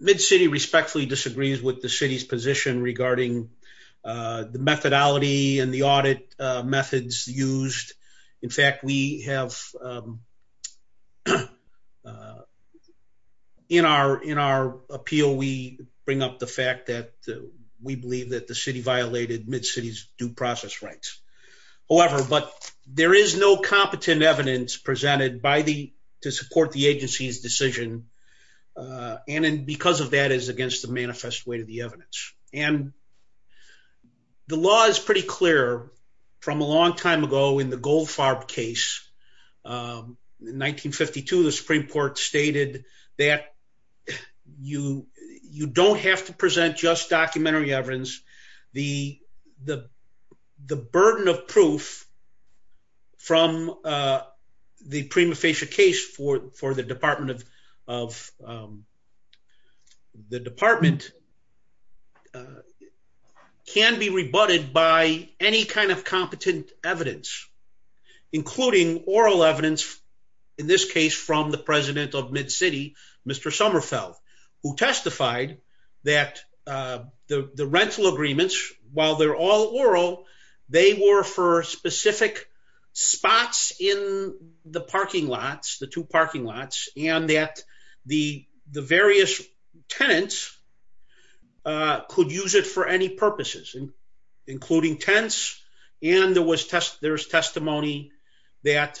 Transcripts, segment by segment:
Mid-City respectfully disagrees with the City's position regarding the methodology and the audit methods used. In fact, we have, in our appeal, we bring up the fact that we believe that the City violated Mid-City's due process rights. However, but there is no competent evidence presented by the, to support the agency's decision and because of that is against the manifest way to the evidence. And the law is pretty clear from a long time ago in the Goldfarb case, in 1952, the Supreme Court stated that you, you don't have to present just documentary evidence, the, the, the burden of proof from the prima facie case for, for the Department of, of the Department can be rebutted by any kind of competent evidence, including oral evidence, in this case from the President of Mid-City, Mr. Sommerfeld, who testified that the, the rental agreements, while they're all oral, they were for specific spots in the parking lots, the two parking lots, and that the, the various tenants could use it for any purposes, including tents. And there was test, there's testimony that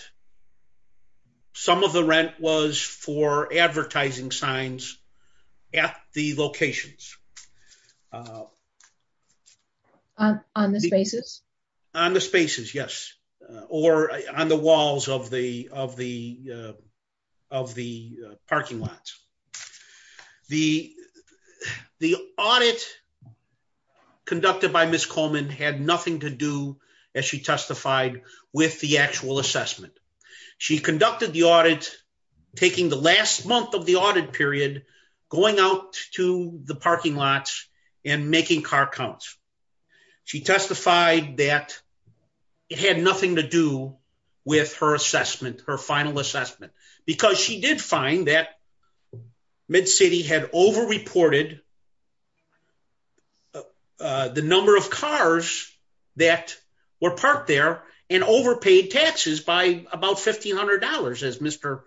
some of the rent was for advertising signs at the locations. On the spaces? On the spaces, yes. Or on the walls of the, of the, of the parking lots. The, the audit conducted by Ms. Coleman had nothing to do, as she testified, with the actual assessment. She conducted the audit, taking the last month of the audit period, going out to the parking lots and making car counts. She testified that it had nothing to do with her assessment, her final assessment, because she did find that Mid-City had overreported the number of cars that were parked there and overpaid taxes by about $1,500, as Mr.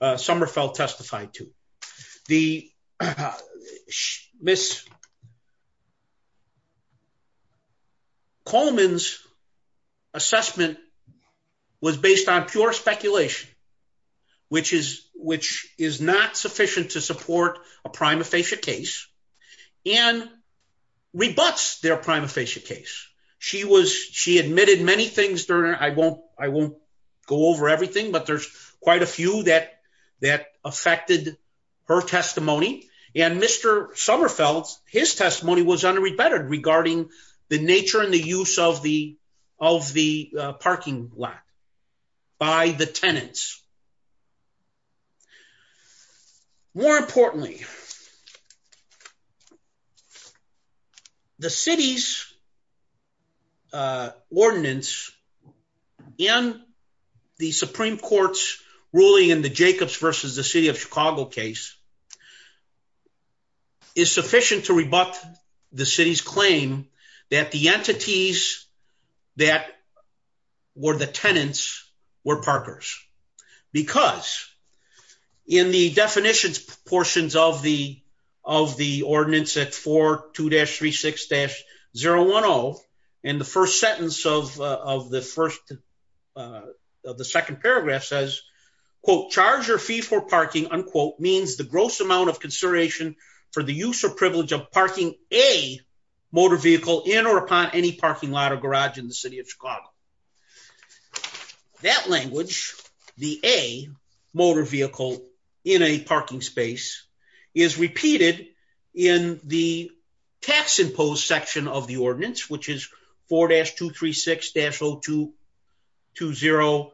Sommerfeld testified to. The, Ms. Coleman's assessment was based on pure speculation, which is, which is not sufficient to support a prima facie case, and rebuts their prima facie case. She was, she admitted many things during, I won't, I won't go over everything, but there's quite a few that, that affected her testimony, and Mr. Sommerfeld's, his testimony was unrebutted regarding the nature and the use of the, of the parking lot by the tenants. More importantly, the city's ordinance in the Supreme Court's ruling in the Jacobs versus the city of Chicago case, is sufficient to rebut the city's claim that the entities that were the tenants were parkers. Because in the definitions portions of the, of the ordinance at 42-36-010, and the first sentence of, of the first, of the second paragraph says, quote, charge your fee for parking, unquote, means the gross amount of consideration for the use or privilege of parking a motor vehicle in or upon any parking lot or garage in the city of Chicago. That language, the a motor vehicle in a parking space, is repeated in the tax imposed section of the ordinance, which is 4-236-0220,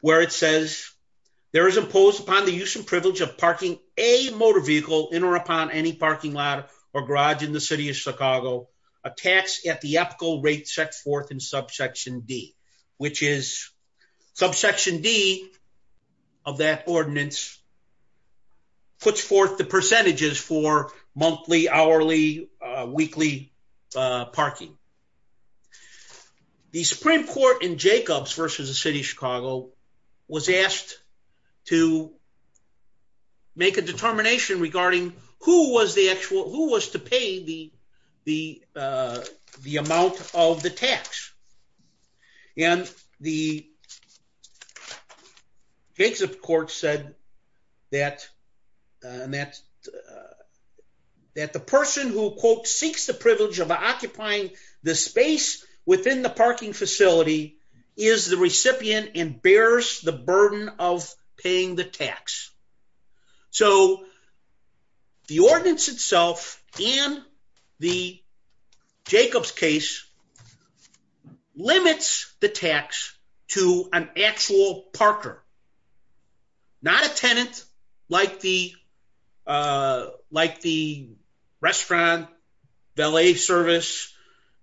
where it says, there is imposed upon the use and privilege of parking a motor vehicle in or upon any parking lot or garage in the city of Chicago, a tax at the ethical rate set forth in subsection D, which is subsection D of that ordinance puts forth the percentages for monthly, hourly, weekly parking. The Supreme Court in Jacobs versus the city of Chicago was asked to make a determination regarding who was the actual, who was to pay the, the, the amount of the tax. And the Supreme Court said that, that, that the person who, quote, seeks the privilege of occupying the space within the parking facility is the recipient and bears the burden of paying the tax. So the ordinance itself and the Jacobs case limits the tax to an actual parker, not a tenant like the, like the restaurant, valet service,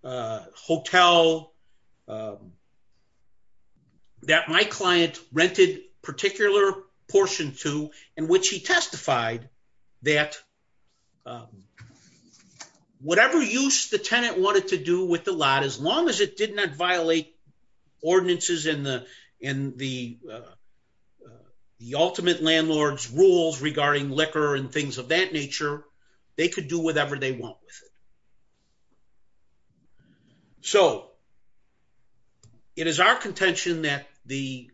hotel that my client rented particular portion to, in which he testified that whatever use the tenant wanted to do with the lot, as long as it did not violate ordinances in the, in the, the ultimate landlord's rules regarding liquor and things of that nature, they could do whatever they want with it. So it is our contention that the,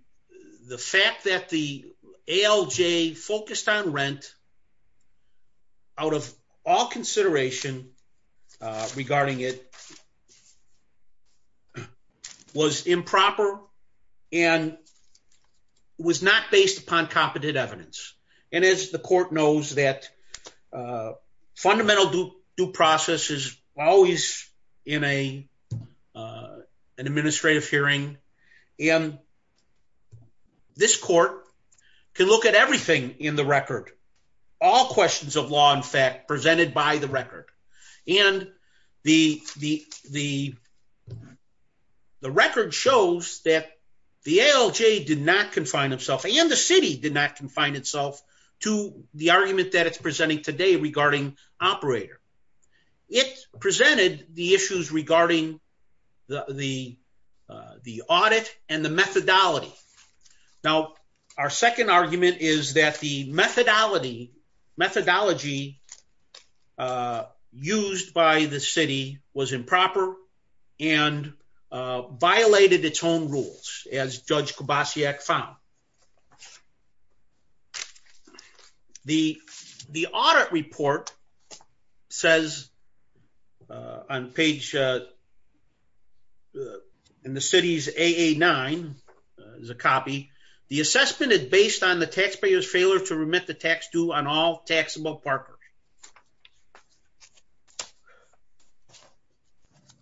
the fact that the ALJ focused on rent out of all consideration regarding it was improper and was not based upon competent evidence. And as the court knows that fundamental due process is always in a, an administrative hearing. And this court can look at everything in the record, all questions of law and fact presented by the record. And the, the, the, the record shows that the ALJ did not confine himself and the city did not confine itself to the argument that it's presenting today regarding operator. It presented the issues regarding the, the, the audit and the methodology. Now, our second argument is that the methodology, methodology used by the city was improper and violated its own rules as judge found. The, the audit report says on page in the city's AA nine is a copy. The assessment is based on the taxpayer's failure to remit the tax due on all taxable property.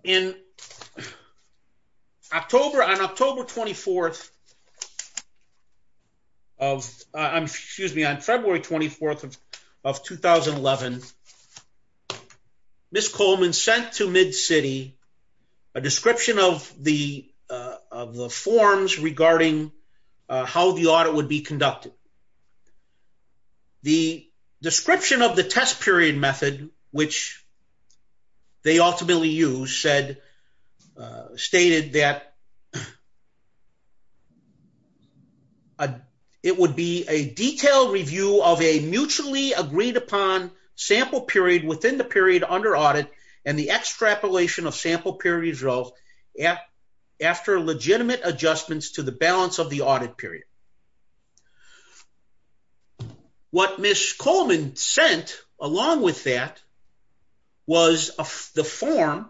In October, on October 24th of, excuse me, on February 24th of 2011, Ms. Coleman sent to MidCity a description of the, of the forms regarding how the audit would be conducted. The description of the test period method, which they ultimately use said, stated that it would be a detailed review of a mutually agreed upon sample period within the period under audit and the extrapolation of sample period results after legitimate adjustments to the balance of the audit period. What Ms. Coleman sent along with that was the form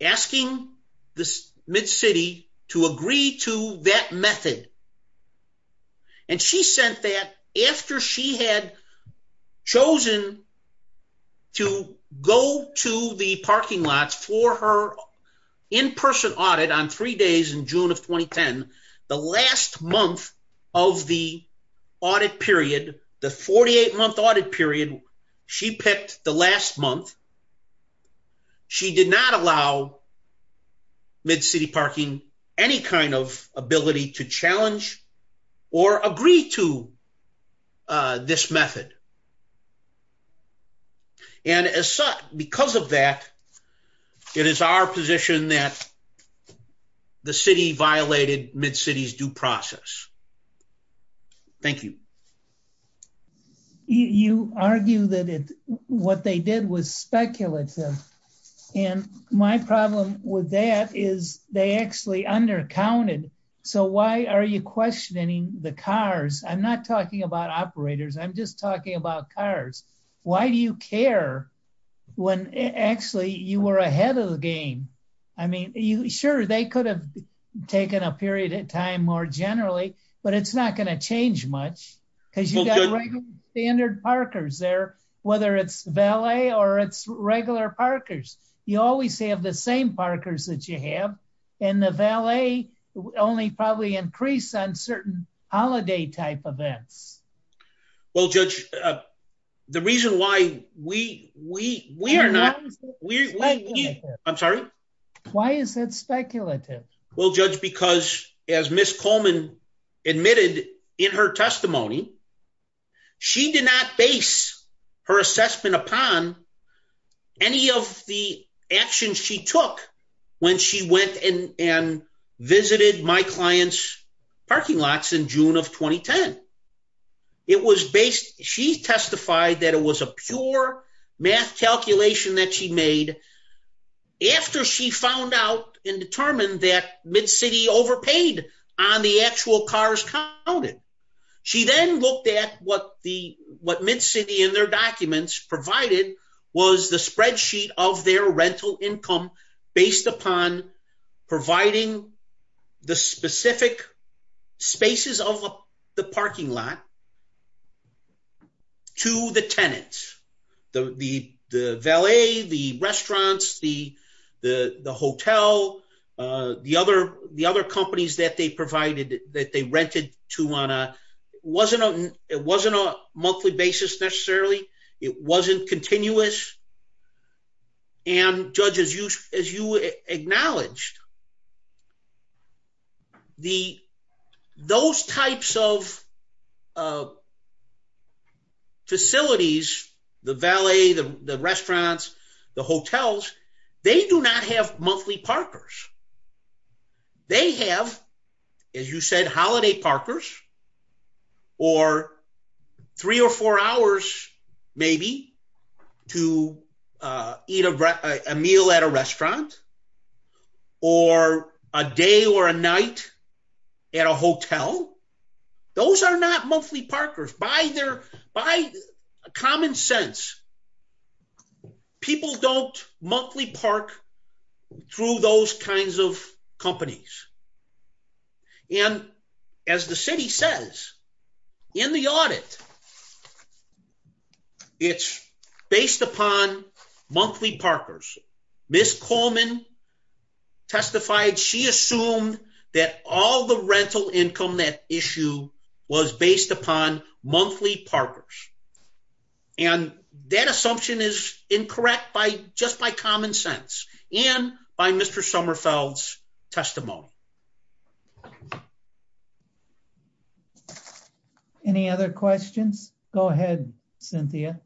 asking this MidCity to agree to that method. And she sent that after she had chosen to go to the parking lots for her in-person audit on three days in June of 2010, the last month of the audit period, the 48 month audit period she picked the last month. She did not allow MidCity parking any kind of ability to challenge or agree to this method. And as such, because of that, it is our position that the city violated MidCity's due process. Thank you. You argue that it, what they did was speculative. And my problem with that is they actually undercounted. So why are you questioning the cars? I'm not talking about operators. I'm just about cars. Why do you care when actually you were ahead of the game? I mean, sure, they could have taken a period of time more generally, but it's not going to change much because you got standard parkers there, whether it's valet or it's regular parkers. You always have the same parkers that you have in the valet only probably increase on certain holiday type events. Well, Judge, the reason why we are not, I'm sorry. Why is that speculative? Well, Judge, because as Ms. Coleman admitted in her testimony, she did not base her assessment upon any of the actions she took when she went and visited my client's parking lots in June of 2010. It was based, she testified that it was a pure math calculation that she made after she found out and determined that MidCity overpaid on the actual cars counted. She then looked at what MidCity in their documents provided was the spreadsheet of their rental income based upon providing the specific spaces of the parking lot to the tenants, the valet, the restaurants, the hotel, the other companies that they provided, that they rented to on a, it wasn't a monthly basis necessarily. It wasn't continuous and Judge, as you acknowledged, the, those types of facilities, the valet, the restaurants, the hotels, they do not have monthly parkers. They have, as you said, holiday parkers or three or four hours maybe to eat a meal at a restaurant or a day or a night at a hotel. Those are not monthly parkers. By their, by common sense, people don't monthly park through those kinds of companies and as the city says in the audit, it's based upon monthly parkers. Ms. Coleman testified she assumed that all the rental assumption is incorrect by just by common sense and by Mr. Sommerfeld's testimony. Any other questions? Go ahead, Cynthia.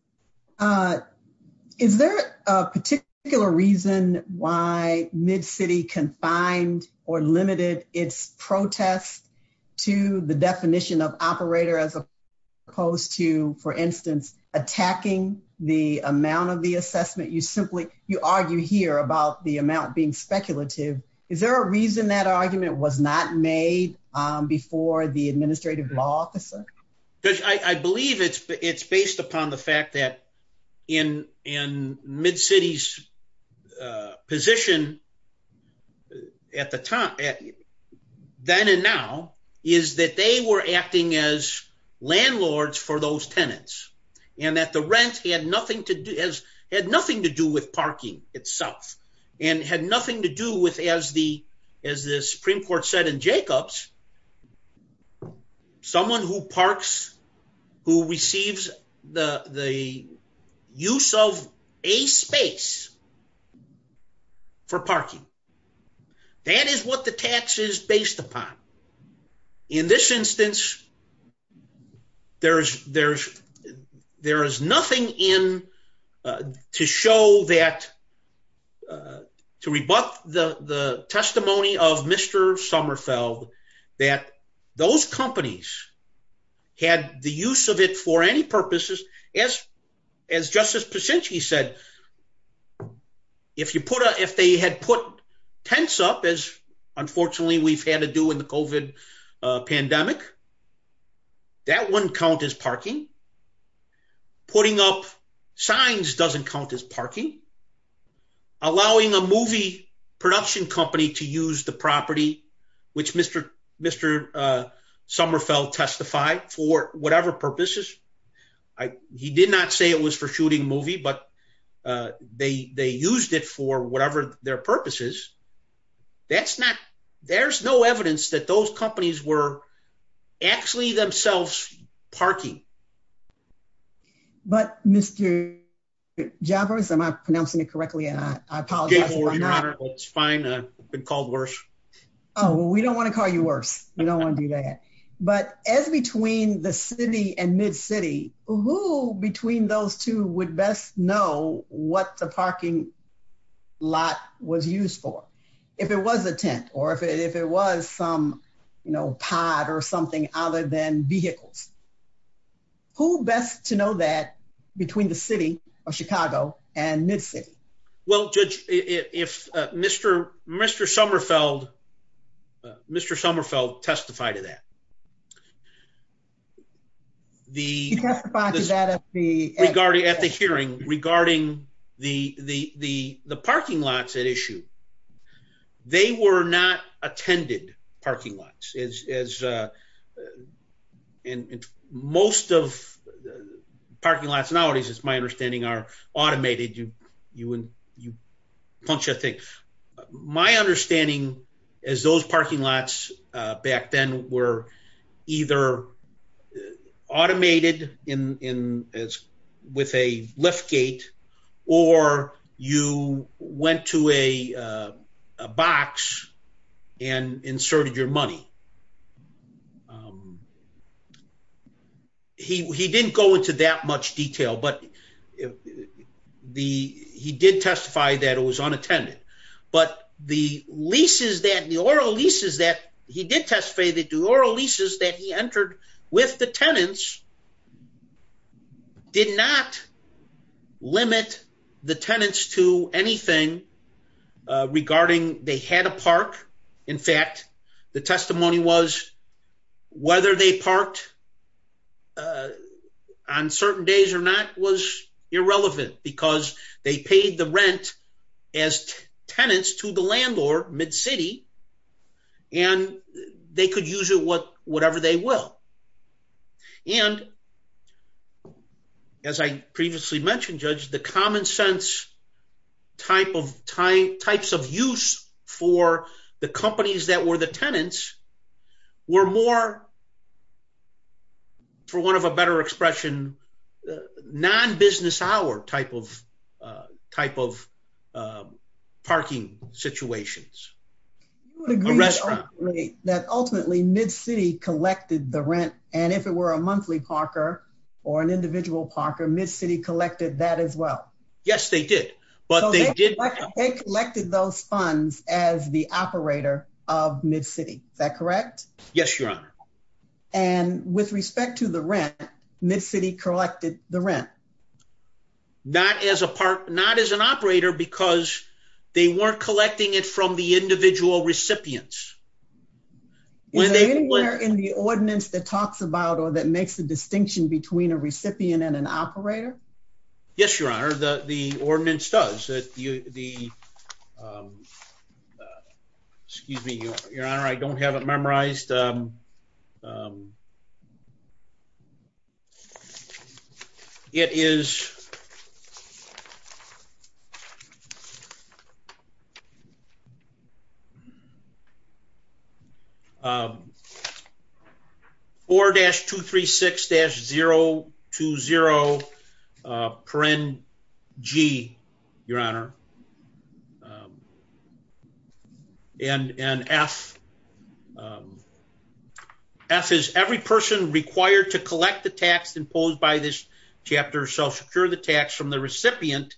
Is there a particular reason why MidCity confined or limited its protest to the definition of operator as opposed to, for instance, attacking the amount of the assessment? You simply, you argue here about the amount being speculative. Is there a reason that argument was not made before the administrative law officer? Because I believe it's based upon the fact that in MidCity's position at the time, then and now, is that they were acting as landlords for those tenants and that the rent had nothing to do, had nothing to do with parking itself and had nothing to do with, as the Supreme Court said in Jacobs, someone who parks, who receives the use of a space for parking. That is what the tax is based upon. In this instance, there is nothing in to show that, to rebut the testimony of Mr. Sommerfeld that those companies had the use of it for any purposes. As Justice Pacinchi said, if you put a, if they had put tents up, as unfortunately we've had to do in the COVID pandemic, that wouldn't count as parking. Putting up signs doesn't count as parking. Allowing a movie production company to use the property, which Mr. Sommerfeld testified for whatever purposes. He did not say it was for shooting movie, but they used it for whatever their purposes. That's not, there's no evidence that those companies were actually themselves parking. But Mr. Jabbers, am I pronouncing it correctly? And I apologize. It's fine. I've been called worse. Oh, we don't want to call you worse. You don't want to do that. But as between the city and mid city, who between those two would best know what the parking lot was used for? If it was a tent or if it was some, you know, pod or something other than vehicles, who best to know that between the city of Chicago and mid city? Well, Judge, if Mr. Sommerfeld testified to that, he testified to that at the hearing regarding the parking lots at issue. They were not attended parking lots. And most of the parking lots nowadays, it's my understanding are automated. You punch a thing. My understanding is those parking lots back then were either automated in as with a lift gate or you went to a box and inserted your money. He didn't go into that much detail, but he did testify that it was unattended. But the leases that the oral leases that he did testify that the oral leases that he entered with the tenants did not limit the tenants to anything regarding they had a park. In fact, the testimony was whether they parked on certain days or not was irrelevant because they paid the rent as tenants to the landlord mid city and they could use it what whatever they will. And as I previously mentioned, Judge, the common sense type of time types of use for the companies that were the tenants were more. For one of a better expression, non business hour type of type of parking situations. That ultimately mid city collected the rent and if it were a monthly Parker or an individual Parker mid city collected that as well. Yes, they did. But they did. They collected those funds as the operator of mid city. Is that correct? Yes, Your Honor. And with respect to the rent, mid city collected the rent, not as a part, not as an operator because they weren't collecting it from the individual recipients. When they were in the ordinance that talks about or that makes the distinction between a recipient and an operator. Yes, Your Honor. The ordinance does that the excuse me, Your Honor. I don't have it memorized. It is 4-236-020-G, Your Honor. And F is every person required to collect the tax imposed by this chapter shall secure the tax from the recipient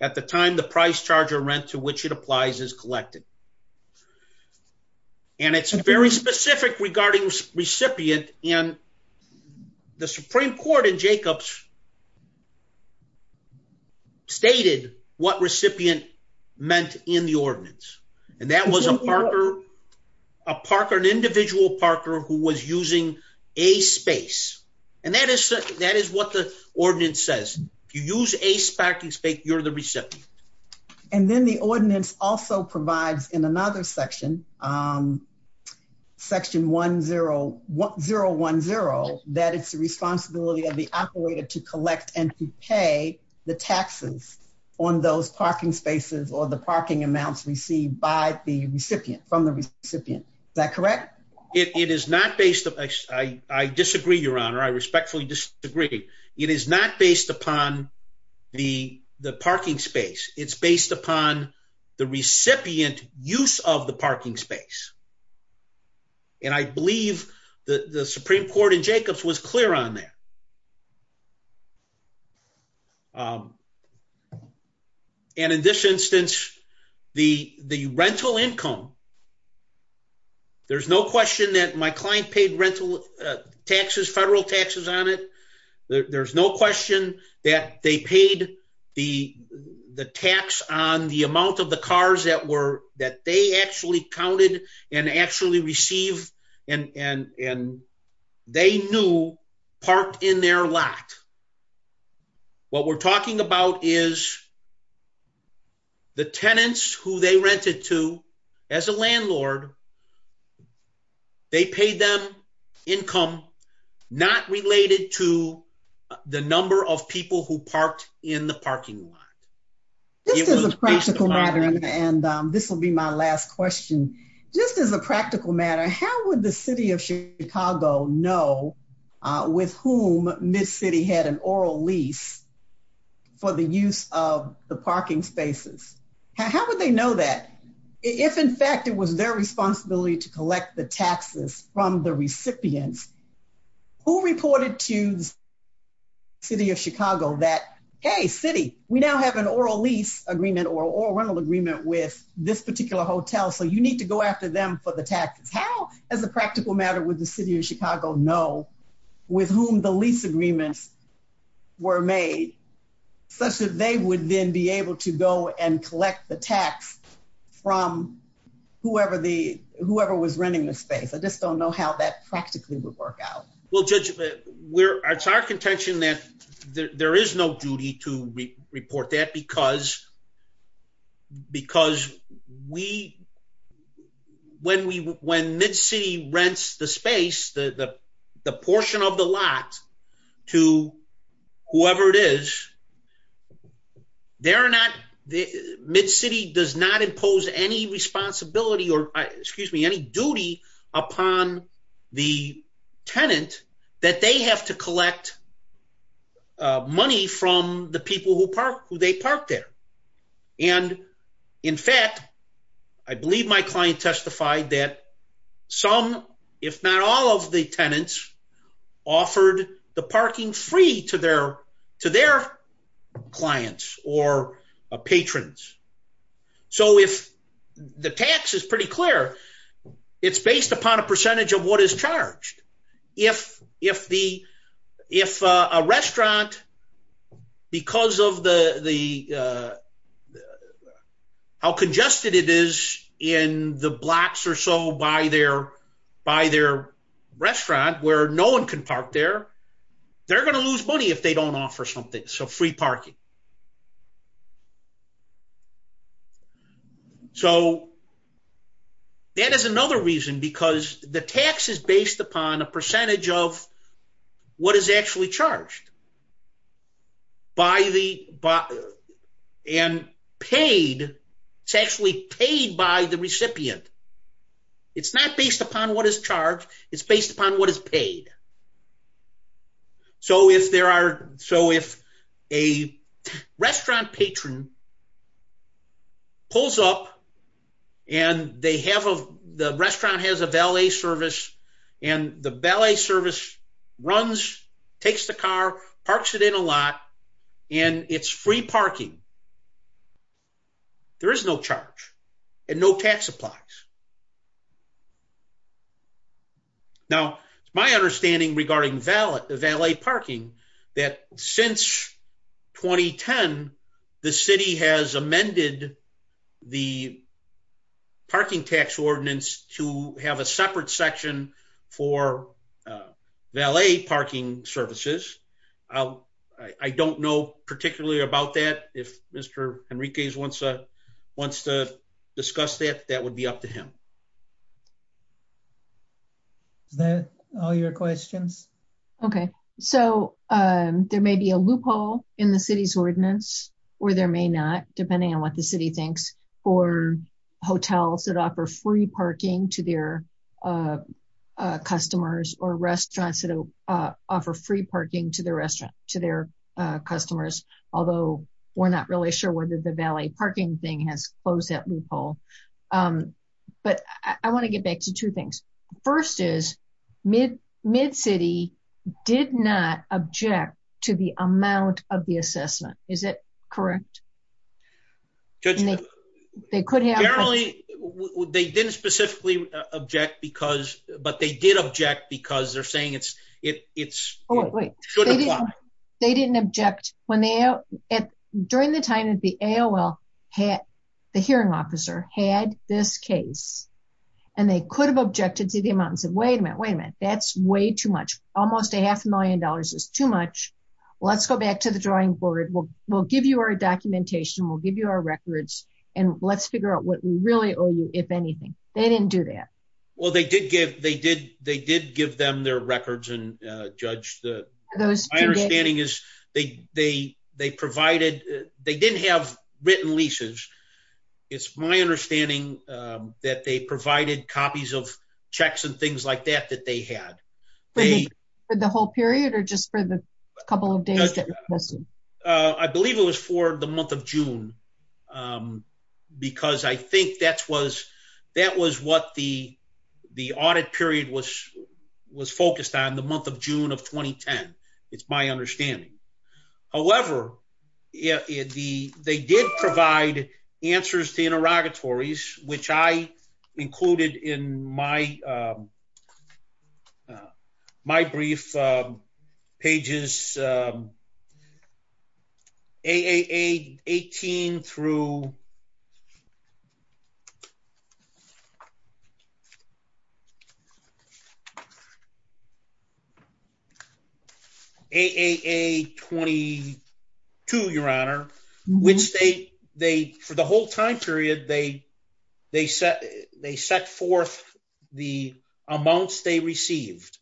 at the time the price charge or rent to which it applies is collected. And it's very specific regarding recipient and the Supreme Court in Jacobs stated what recipient meant in the ordinance. And that was a Parker, a Parker, an individual Parker who was using a space. And that is that is what the ordinance says. If you use a parking space, you're the recipient. And then the ordinance also provides in another section, Section 1010, that it's the responsibility of the operator to collect and to pay the taxes on those parking spaces or the parking amounts received by the recipient from the recipient. Is that correct? It is not based. I disagree, Your Honor. I respectfully disagree. It is not based upon the parking space. It's based upon the recipient use of the parking space. And I believe the Supreme Court in Jacobs was clear on that. And in this instance, the rental income, there's no question that my client paid rental taxes, federal taxes on it. There's no question that they paid the tax on the amount of the cars that were that they actually counted and actually received and they knew parked in their lot. What we're talking about is the tenants who they rented to as a landlord, they paid them income not related to the number of people who parked in the parking lot. This is a practical matter, and this will be my last question. Just as a practical matter, how would the city of Chicago know with whom MidCity had an oral lease for the use of the parking spaces? How would they know that? If in fact, it was their responsibility to collect the taxes from the recipients, who reported to the city of Chicago that, hey, city, we now have an oral lease agreement or a rental agreement with this particular hotel, so you need to go after them for the taxes. How as a practical matter would the city of Chicago know with whom the lease agreements were made such that they would then be able to go and collect the tax from whoever was renting the space? I just don't know how that practically would work out. Well, Judge, it's our contention that there is no duty to report that because when MidCity rents the space, the portion of the lot to whoever it is, MidCity does not impose any responsibility or, excuse me, any duty upon the tenant that they have to collect money from the people who they parked there. And in fact, I believe my client clients or patrons. So, if the tax is pretty clear, it's based upon a percentage of what is charged. If a restaurant, because of how congested it is in the blocks or so by their restaurant where no one can park there, they're going to lose money if they don't offer something. So, free parking. So, that is another reason because the tax is based upon a percentage of what is actually charged and paid. It's actually paid by the recipient. It's not based upon what is charged. It's based upon what is paid. So, if there are, so if a restaurant patron pulls up and they have a, the restaurant has a valet service and the valet service runs, takes the car, parks it in a lot, and it's free parking, there is no charge and no tax applies. Now, it's my understanding regarding valet parking that since 2010, the city has amended the parking tax ordinance to have a separate section for valet parking services. I don't know particularly about that. If Mr. Henriquez wants to discuss that, that would be up to him. Is that all your questions? Okay. So, there may be a loophole in the city's ordinance, or there may not, depending on what the city thinks, for hotels that offer free parking to their customers or restaurants that offer free parking to their customers, although we're not sure whether the valet parking thing has closed that loophole. But I want to get back to two things. First is, MidCity did not object to the amount of the assessment. Is that correct? They could have. They didn't specifically object because, but they did object because they're AOL, the hearing officer, had this case, and they could have objected to the amount and said, wait a minute, wait a minute, that's way too much. Almost a half a million dollars is too much. Let's go back to the drawing board. We'll give you our documentation. We'll give you our records, and let's figure out what we really owe you, if anything. They didn't do that. Well, they did give them their records, and Judge, my understanding is they provided, they didn't have written leases. It's my understanding that they provided copies of checks and things like that that they had. For the whole period, or just for the couple of days? I believe it was for the month of June, because I think that was what the audit period was focused on, the month of June of 2010. It's my understanding. However, they did provide answers to interrogatories, which I included in my brief, pages AAA18 through AAA22, your honor, which they, for the whole time period, they set forth the rental space. Yes,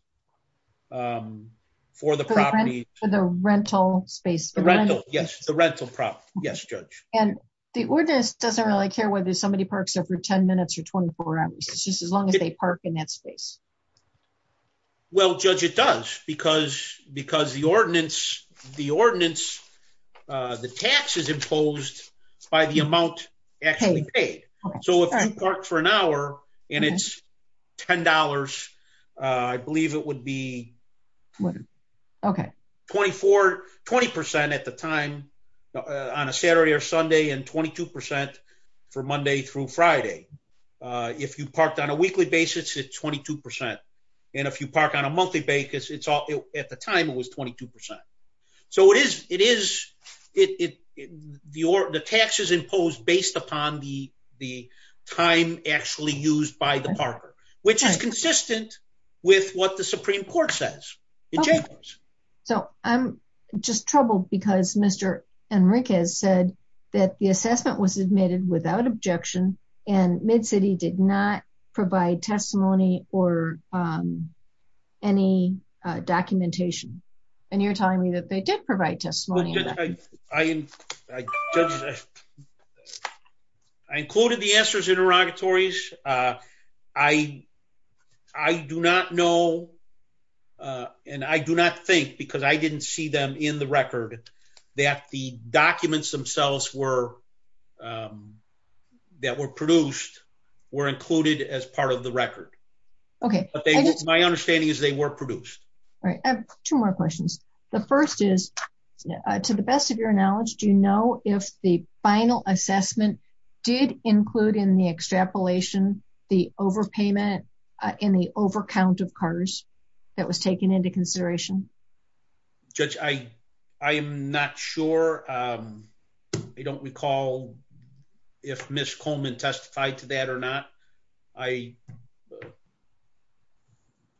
the rental property. Yes, Judge. The ordinance doesn't really care whether somebody parks there for 10 minutes or 24 hours. It's just as long as they park in that space. Well, Judge, it does, because the ordinance, the tax is imposed by the amount actually paid. So if you parked for an hour, and it's $10, I believe it would be 20% at the time, on a Saturday or Sunday, and 22% for Monday through Friday. If you parked on a weekly basis, it's 22%. And if you park on a monthly basis, at the time, it was 22%. So the tax is imposed based upon the time actually used by the parker, which is consistent with what the Supreme Court says. So I'm just troubled because Mr. Enriquez said that the assessment was admitted without objection, and MidCity did not provide testimony or any documentation. And you're telling me that they did provide testimony. I included the answers in interrogatories. I do not know, and I do not think, because I didn't see them in the record, that the documents themselves that were produced were included as part of the record. My understanding is they were produced. All right, I have two more questions. The first is, to the best of your knowledge, do you know if the final assessment did include in the extrapolation the overpayment in the overcount of cars that was taken into consideration? Judge, I am not sure. I don't recall if Ms. Coleman testified to that or not.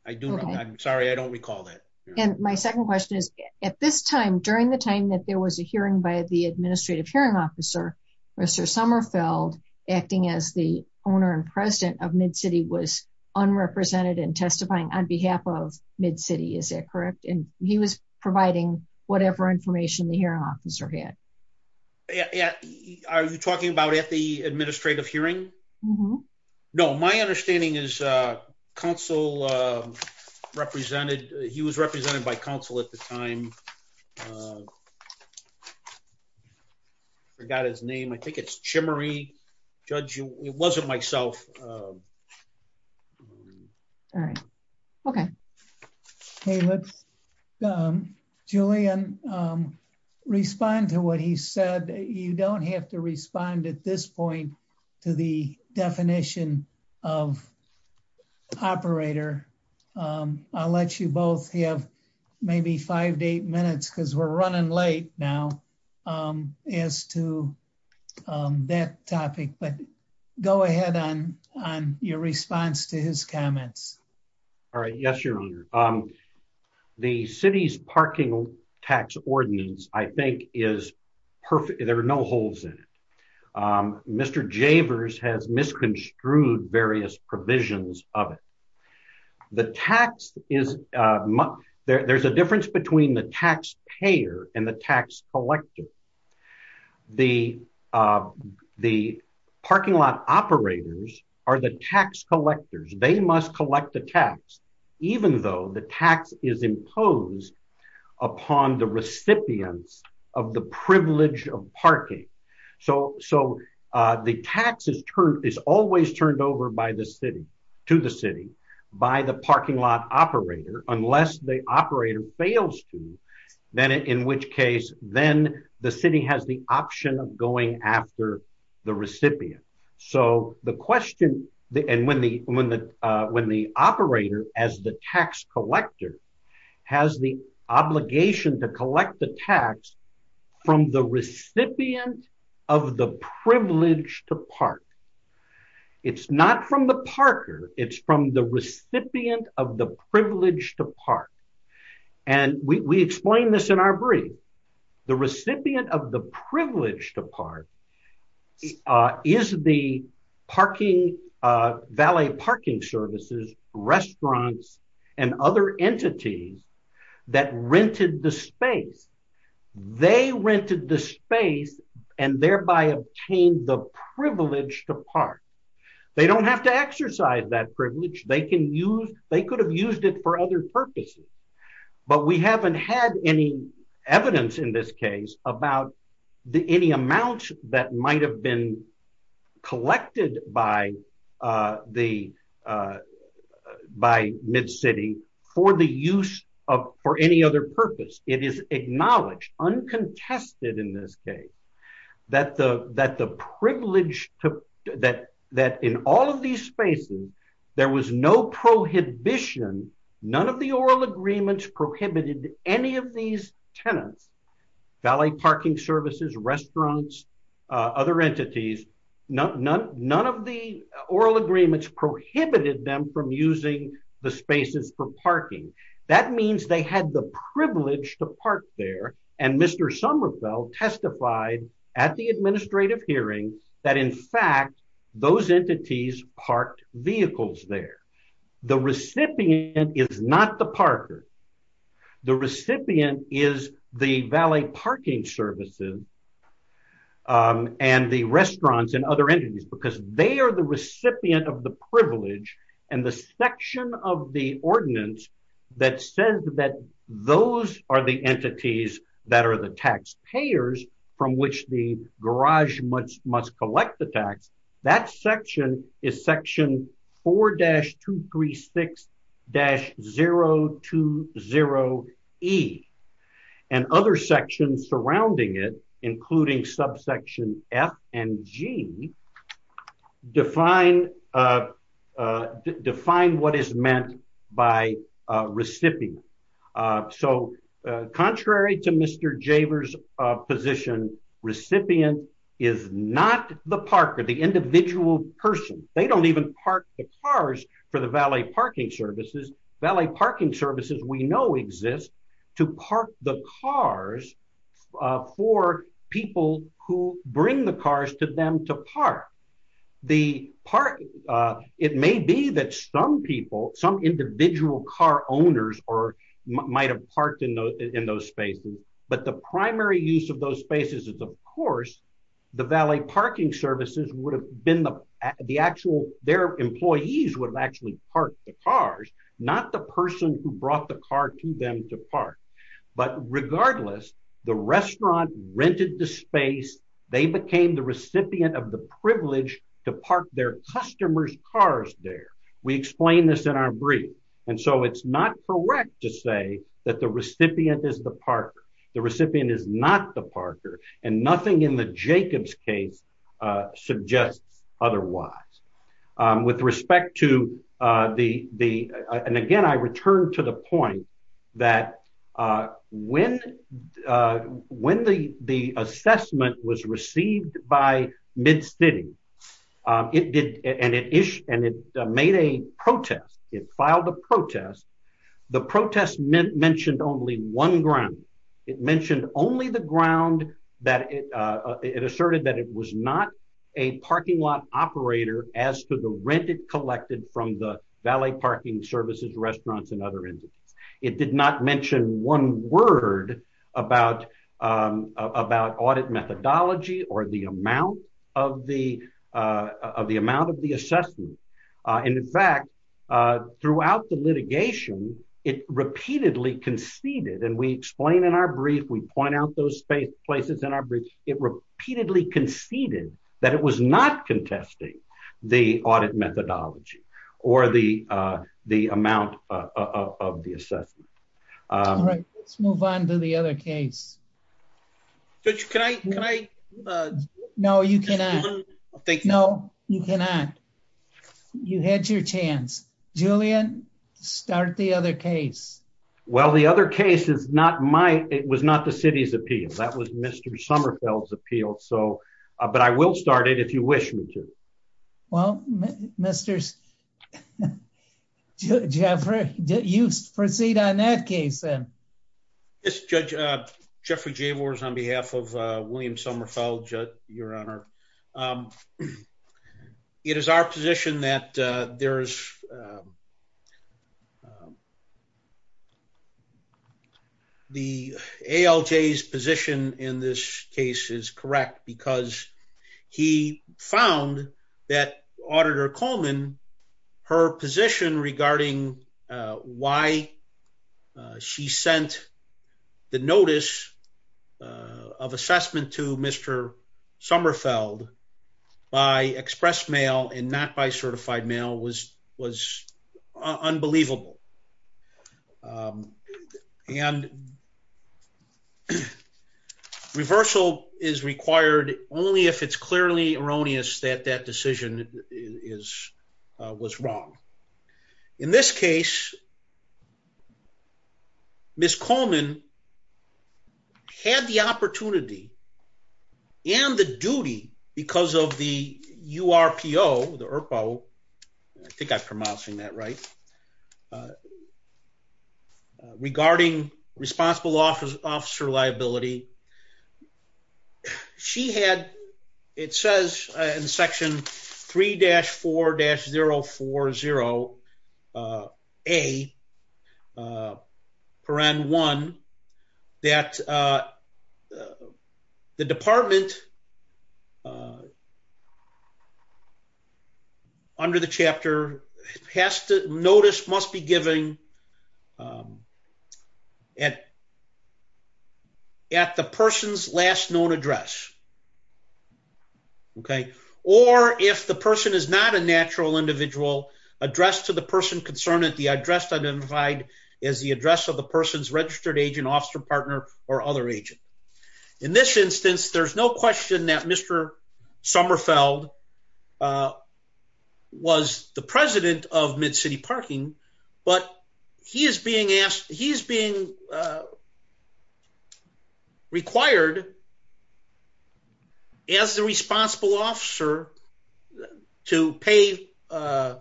I do not. I'm sorry. I don't recall that. And my second question is, at this time, during the time that there was a hearing by the administrative hearing officer, Mr. Sommerfeld, acting as the owner and president of MidCity, was unrepresented in testifying on behalf of MidCity. Is that correct? And he was providing whatever information the hearing officer had. Yeah. Are you talking about at the administrative hearing? No, my understanding is counsel represented. He was represented by counsel at the time. I forgot his name. I think it's Chimerey. Judge, it wasn't myself. All right. Okay. Hey, let's, Julian, respond to what he said. You don't have to respond at this point to the definition of operator. I'll let you both have maybe five to eight minutes, because we're running late now as to that topic. But go ahead on your response to his comments. All right. Yes, your honor. The city's parking tax ordinance, I think, is perfect. There are no holes in it. Mr. Javers has misconstrued various provisions of it. There's a difference between the taxpayer and the tax collector. The parking lot operators are the tax collectors. They must collect the tax, even though the tax is imposed upon the recipients of the privilege of parking. So the tax is always turned over to the city by the parking lot operator, unless the operator fails to. Then in which case, then the city has the option of going after the recipient. So the question, and when the operator as the tax collector has the obligation to collect the tax from the recipient of the privilege to park. It's not from the parker. It's from the recipient of the privilege to park. And we explain this in our brief. The recipient of the privilege to park is the parking, valet parking services, restaurants, and other entities that rented the space. They rented the space and thereby obtained the privilege to park. They don't have to exercise that privilege. They could have used it for other purposes. But we haven't had any evidence in this case about any amount that might have been collected by MidCity for the use of, for any purpose. It is acknowledged, uncontested in this case, that the privilege to, that in all of these spaces, there was no prohibition. None of the oral agreements prohibited any of these tenants, valet parking services, restaurants, other entities, none of the oral agreements prohibited them from using the spaces for parking. That means they had the privilege to park there. And Mr. Somerville testified at the administrative hearing that in fact those entities parked vehicles there. The recipient is not the parker. The recipient is the valet parking services and the restaurants and other entities because they are the recipient of the privilege and the section of the ordinance that says that those are the entities that are the taxpayers from which the garage must collect the tax. That section is section 4-236-020E. And other sections surrounding it, including subsection F and G, define what is meant by recipient. So contrary to Mr. Javers' position, recipient is not the parker, the individual person. They don't even park the cars for the valet parking services. Valet parking services we know exist to park the cars for people who bring the cars to them to park. It may be that some people, some individual car owners might have parked in those spaces. But the primary use of those spaces is of course the valet parking services would have been the actual, their employees would have actually parked the cars, not the person who brought the car to them to park. But regardless, the restaurant rented the space. They became the recipient of the privilege to park their customers' cars there. We explain this in our brief. And so it's not correct to say that the recipient is the parker. The recipient is not the parker and nothing in the Jacobs case suggests otherwise. With respect to the, and again I return to the point that when the assessment was received by Mid-City and it made a protest, it filed a protest, the protest mentioned only one ground. It mentioned only the ground that it asserted that it was not a parking lot operator as to the rent it collected from the valet parking services, restaurants and other entities. It did not mention one word about audit methodology or the amount of the assessment. And in fact, throughout the litigation, it repeatedly conceded, and we explain in our brief, we point out those places in our brief, it repeatedly conceded that it was not contesting the audit methodology or the amount of the assessment. All right, let's move on to the other case. Judge, can I? No, you cannot. Thank you. No, you cannot. You had your chance. Julian, start the other case. Well, the other case is not my, it was not the city's appeal. That was Mr. Sommerfeld's appeal. So, but I will start it if you wish me to. Well, Mr. Jeffrey, you proceed on that case then. Yes, Judge, Jeffrey Javors on behalf of William Sommerfeld, Your Honor. It is our position that there is a, the ALJ's position in this case is correct because he found that Auditor Coleman, her position regarding why she sent the notice of assessment to Mr. Sommerfeld by express mail and not by certified mail was, was unbelievable. And reversal is required only if it's clearly erroneous that that decision is, was wrong. In this case, Ms. Coleman had the opportunity and the duty because of the URPO, the ERPO, I think I'm pronouncing that right, regarding responsible officer liability. She had, it says in section 3-4-040A paren 1, that the department under the chapter has to, notice must be given at, at the person's last known address. Okay. Or if the person is not a natural individual addressed to the person concerned at the address identified as the address of the person's registered agent, officer, partner, or other agent. In this instance, there's no question that Mr. Sommerfeld was the president of Mid-City Parking, but he is being asked, he's being required as the responsible officer to pay an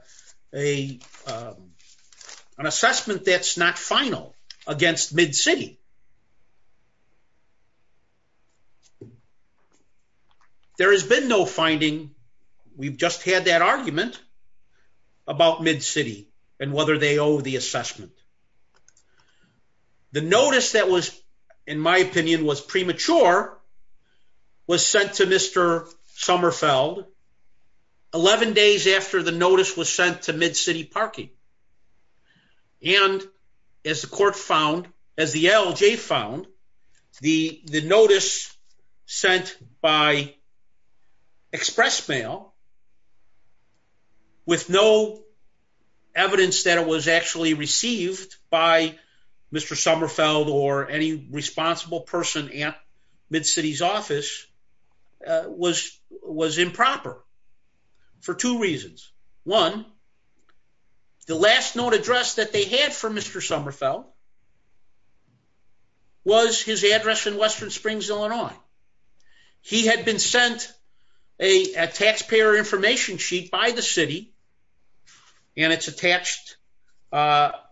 assessment that's not final against Mid-City. There has been no finding. We've just had that argument about Mid-City and whether they owe the assessment. The notice that was, in my opinion, was premature, was sent to Mr. Sommerfeld 11 days after the notice was sent to Mid-City Parking. And as the court found, as the LJ found, the, the notice sent by express mail with no evidence that it was actually received by Mr. Sommerfeld or any responsible person at Mid-City's office was, was improper for two reasons. One, the last known address that they had for Mr. Sommerfeld was his address in Western Springs, Illinois. He had been sent a taxpayer information sheet by the city, and it's attached to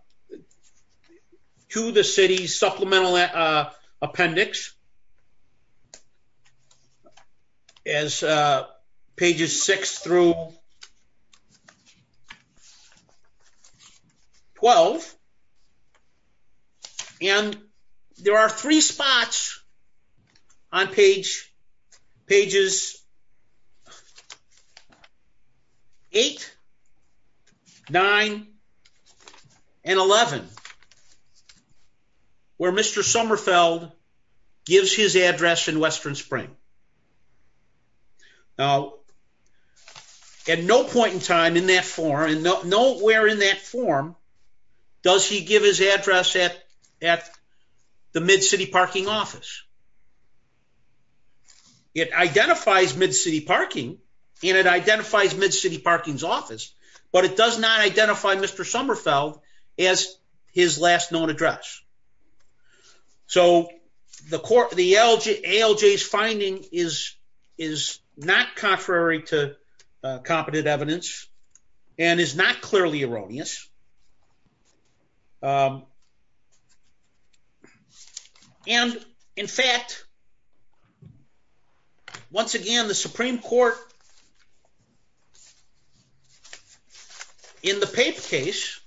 the city's supplemental appendix as pages 6 through 12. And there are three spots on page, pages 8, 9, and 11, where Mr. Sommerfeld gives his address in Western Springs. Now, at no point in time in that form, and nowhere in that form, does he give his address at, at Mid-City Parking office. It identifies Mid-City Parking, and it identifies Mid-City Parking's office, but it does not identify Mr. Sommerfeld as his last known address. So the court, the LJ, ALJ's finding is, is not contrary to competent evidence and is not clearly erroneous. And in fact, once again, the Supreme Court in the Pape case,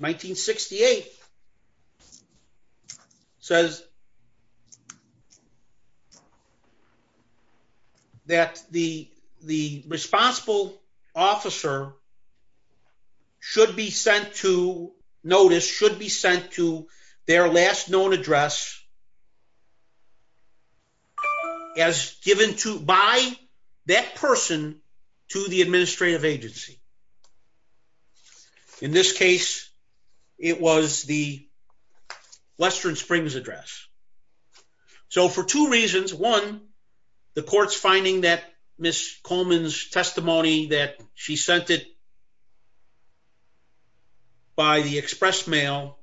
1968, says that the, the responsible officer should be sent to, notice, should be sent to their last known address as given to, by that person to the administrative agency. In this case, it was the Western Springs address. So for two reasons, one, the court's finding that Ms. Coleman's testimony that she sent it by the express mail,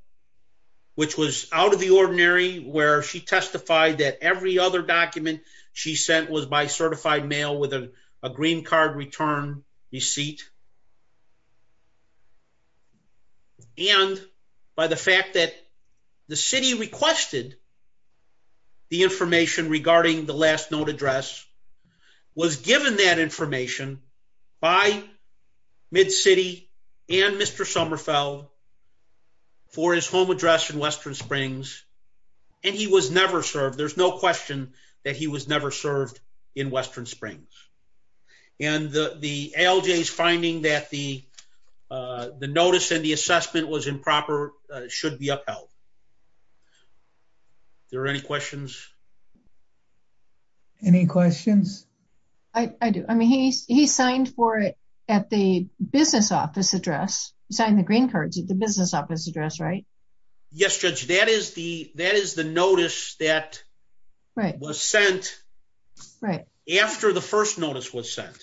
which was out of the ordinary, where she testified that every other document she sent was by certified mail with a green card return receipt. And by the fact that the city requested the information regarding the last known address was given that information by Mid-City and Mr. Sommerfeld for his home address in Western Springs, and he was never served. There's no question that he was never served in Western Springs. And the ALJ's finding that the, the notice and the assessment was improper, should be upheld. There are any questions? Any questions? I do. I mean, he, he signed for it at the business office address, signed the green cards at the business office address, right? Yes, Judge, that is the, that is the notice that was sent right after the first notice was sent,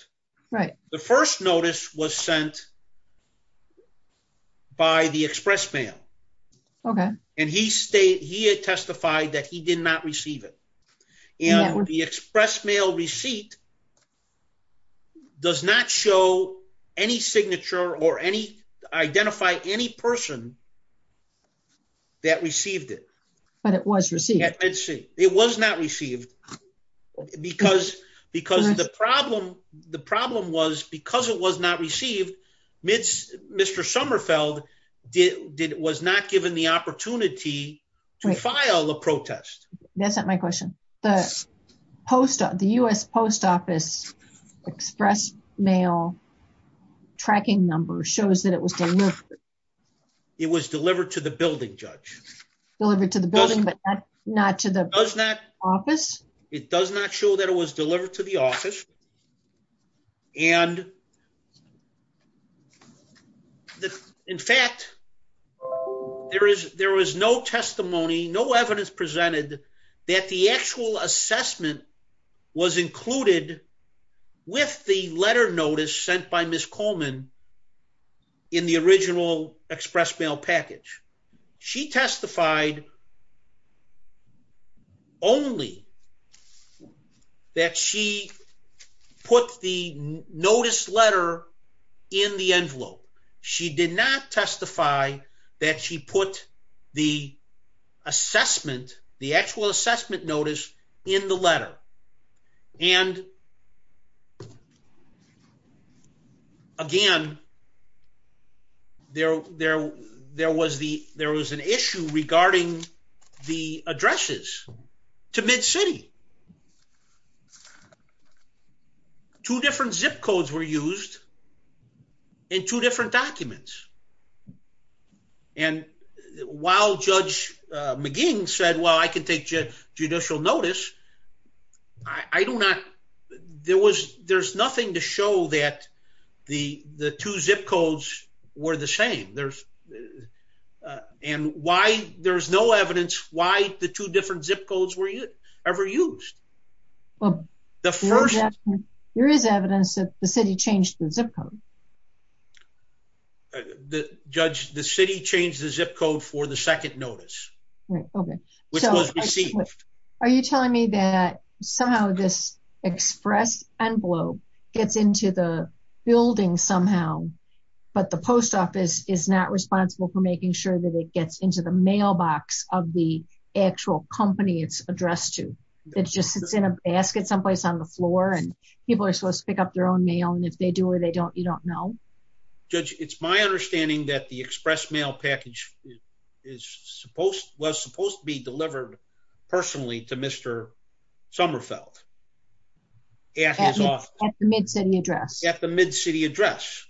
right? The first notice was sent by the express mail. Okay. And he stayed, he had testified that he did not receive it. And the express mail receipt does not show any signature or any identify any person that received it. But it was received. It was not received because, because the problem, the problem was because it was not received, Mr. Sommerfeld did, was not given the opportunity to file a protest. That's not my question. The post, the US post office express mail tracking number shows that it was delivered. It was delivered to the building, Judge. Delivered to the building, but not to the office. It does not show that it was delivered to the office. And in fact, there is, there was no testimony, no evidence presented that the actual assessment was included with the letter notice sent by Ms. Coleman in the original express mail package. She testified only that she put the notice letter in the envelope. She did not testify that she put the assessment, the actual assessment notice in the letter. And again, there, there, there was the, there was an issue regarding the addresses to MidCity. Two different zip codes were used in two different documents. And while Judge McGinn said, well, I can take judicial notice. I do not, there was, there's nothing to show that the, the two zip codes were the same. There's, and why there's no evidence why the two different zip codes were ever used. There is evidence that the city changed the zip code. The judge, the city changed the zip code for the second notice. Are you telling me that somehow this express envelope gets into the building somehow, but the post office is not responsible for making sure that it gets into the mailbox of the actual company it's addressed to. It's just, it's in a basket someplace on the floor and people are supposed to pick up their own mail. And if they do or they don't, you don't know. Judge, it's my understanding that the express mail package is supposed, was supposed to be delivered personally to Mr. Sommerfeld at his office. At the MidCity address. At the MidCity address.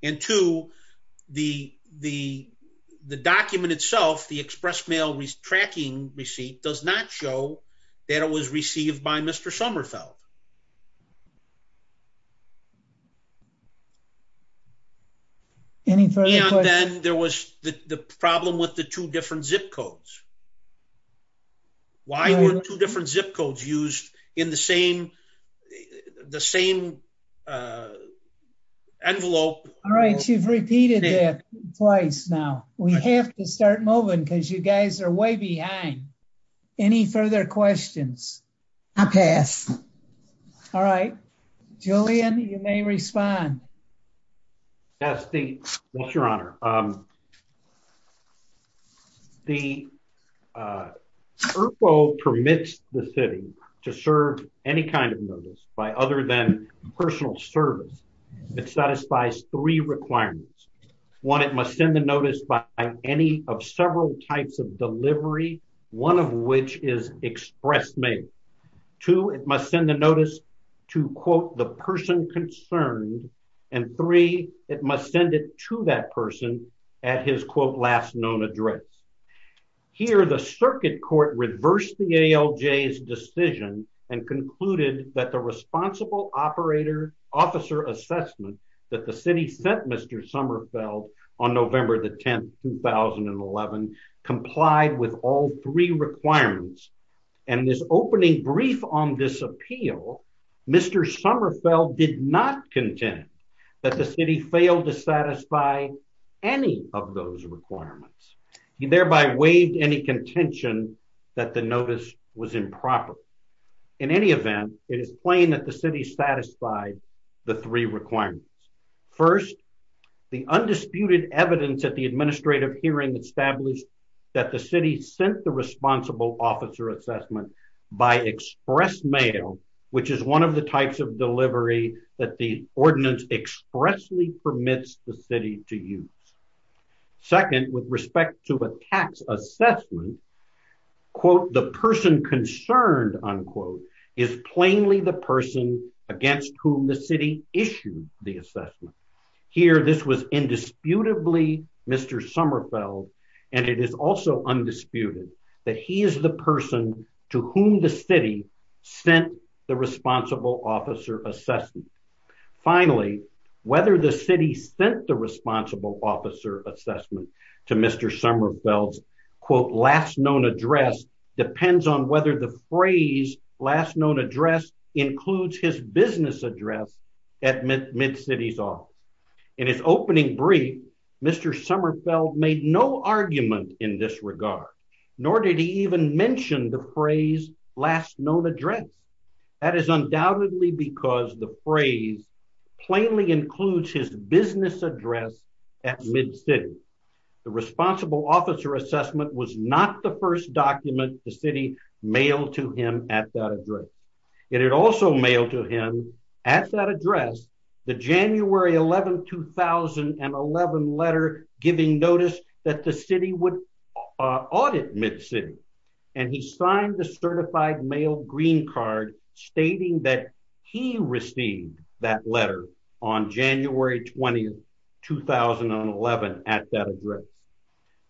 And two, the, the, the document itself, the express mail tracking receipt does not show that it was received by Mr. Sommerfeld. And then there was the problem with the two different zip codes. Why were two different zip codes used in the same, the same envelope? All right. You've repeated that twice now. We have to start moving because you guys are way behind. Any further questions? I pass. All right. Julian, you may respond. Yes, the, yes, your honor. The, uh, ERPO permits the city to serve any kind of notice by other than personal service. It satisfies three requirements. One, it must send the notice by any of several types of delivery. One of which is express mail. Two, it must send the notice to quote the person concerned and three, it must send it to that person at his quote last known address. Here, the circuit court reversed the ALJ's decision and concluded that the responsible operator officer assessment that the city sent Mr. Sommerfeld on November the 10th, 2011 complied with all three requirements. And this opening brief on this appeal, Mr. Sommerfeld did not contend that the city failed to satisfy any of those requirements. He thereby waived any contention that the notice was improper. In any event, it is plain that the city satisfied the three requirements. First, the undisputed evidence at the administrative hearing established that the city sent the responsible officer assessment by express mail, which is one of the types of delivery that the ordinance expressly permits the city to use. Second, with respect to a tax assessment, quote, the person concerned, unquote, is plainly the person against whom the city issued the assessment. Here, this was indisputably Mr. Sommerfeld and it is also undisputed that he is the person to whom the city sent the responsible officer assessment. Finally, whether the city sent the responsible officer assessment to Mr. Sommerfeld's quote last known address depends on whether the phrase last known address includes his business address at nor did he even mention the phrase last known address. That is undoubtedly because the phrase plainly includes his business address at MidCity. The responsible officer assessment was not the first document the city mailed to him at that address. It had also mailed to him at that address the January 11, 2011 letter giving notice that the city would audit MidCity and he signed the certified mail green card stating that he received that letter on January 20, 2011 at that address.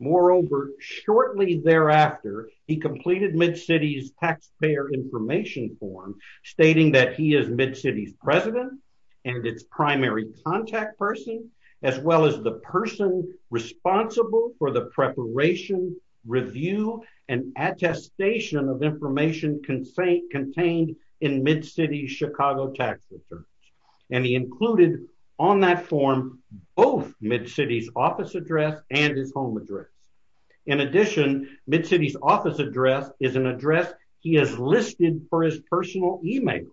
Moreover, shortly thereafter, he completed MidCity's taxpayer information form stating that he is MidCity's president and its primary contact person as well as the person responsible for the preparation, review, and attestation of information contained in MidCity's Chicago tax returns. And he included on that form both MidCity's office address and his home address. In addition, MidCity's office address is an address he has listed for his personal email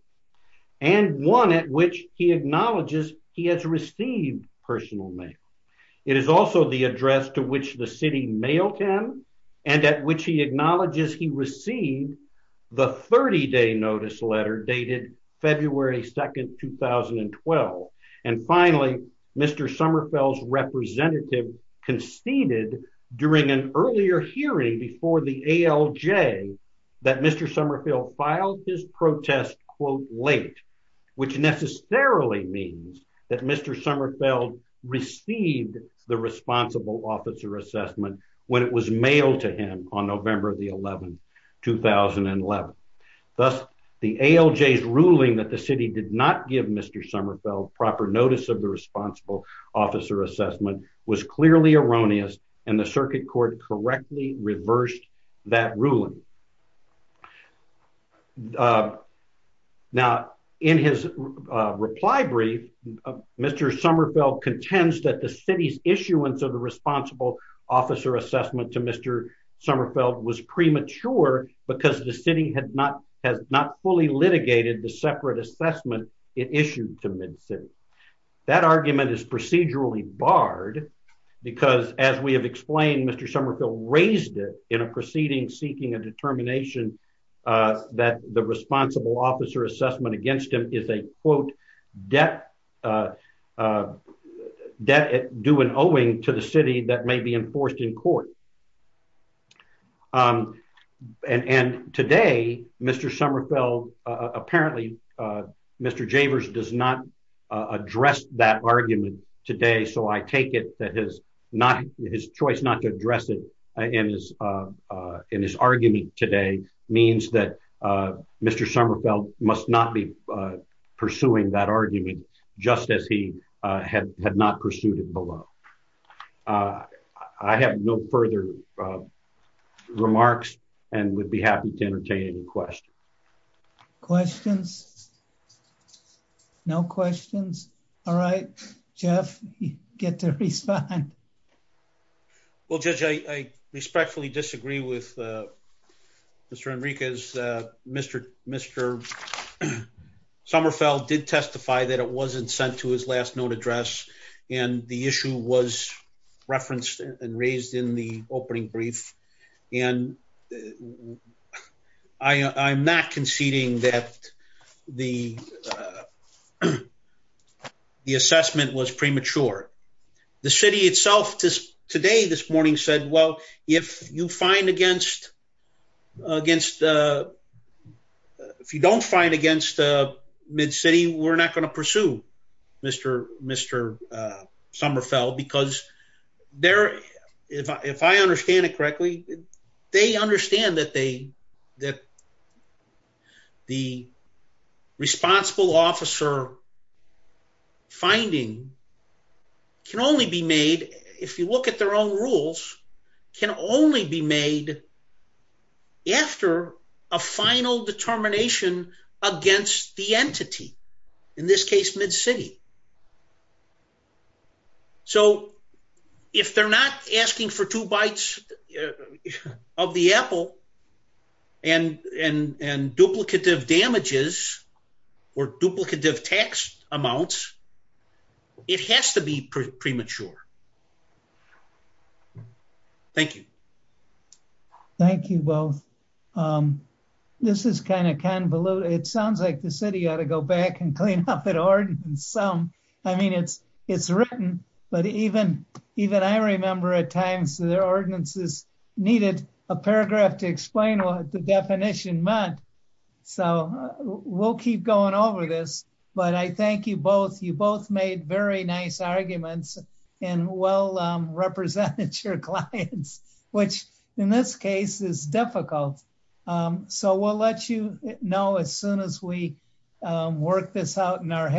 and one at which he acknowledges he has received personal mail. It is also the address to which the city mailed him and at which he acknowledges he received the 30-day notice letter dated February 2, 2012. And finally, Mr. Sommerfeld's representative conceded during an earlier hearing before the ALJ that Mr. Sommerfeld filed his protest quote late which necessarily means that Mr. Sommerfeld received the responsible officer assessment when it was mailed to him on November the 11, 2011. Thus, the ALJ's ruling that the city did not give Mr. Sommerfeld proper notice of the responsible officer assessment was clearly erroneous and the circuit court correctly reversed that ruling. Now, in his reply brief, Mr. Sommerfeld contends that the city's issuance of the responsible officer assessment to Mr. Sommerfeld was premature because the city has not fully litigated the separate assessment it issued to MidCity. That argument is procedurally barred because as we have explained, Mr. Sommerfeld raised it in a proceeding seeking a determination that the responsible officer assessment against him is a quote debt due and owing to the city that may be enforced in court. And today, Mr. Sommerfeld apparently, Mr. Javers does not address that argument today so I take it that his choice not to address it in his argument today means that Mr. Sommerfeld must not be pursuing that argument just as he had not pursued it below. I have no further remarks and would be happy to entertain any questions. Questions? No questions? All right. Jeff, you get to respond. Well, Judge, I respectfully disagree with Mr. Enriquez. Mr. Sommerfeld did testify that it and raised in the opening brief and I'm not conceding that the assessment was premature. The city itself today this morning said, well, if you find against, if you don't find against MidCity, we're not going to pursue Mr. Sommerfeld because if I understand it correctly, they understand that the responsible officer finding can only be made if you look at their rules, can only be made after a final determination against the entity, in this case, MidCity. So if they're not asking for two bites of the apple and duplicative damages or duplicative tax amounts, it has to be premature. Thank you. Thank you both. This is kind of convoluted. It sounds like the city ought to go back and clean up that ordinance. I mean, it's written, but even I remember at times their ordinances needed a paragraph to explain what the definition meant. So we'll keep going over this, but I thank you both. You both made very nice arguments and well represented your clients, which in this case is difficult. So we'll let you know as soon as we work this out in our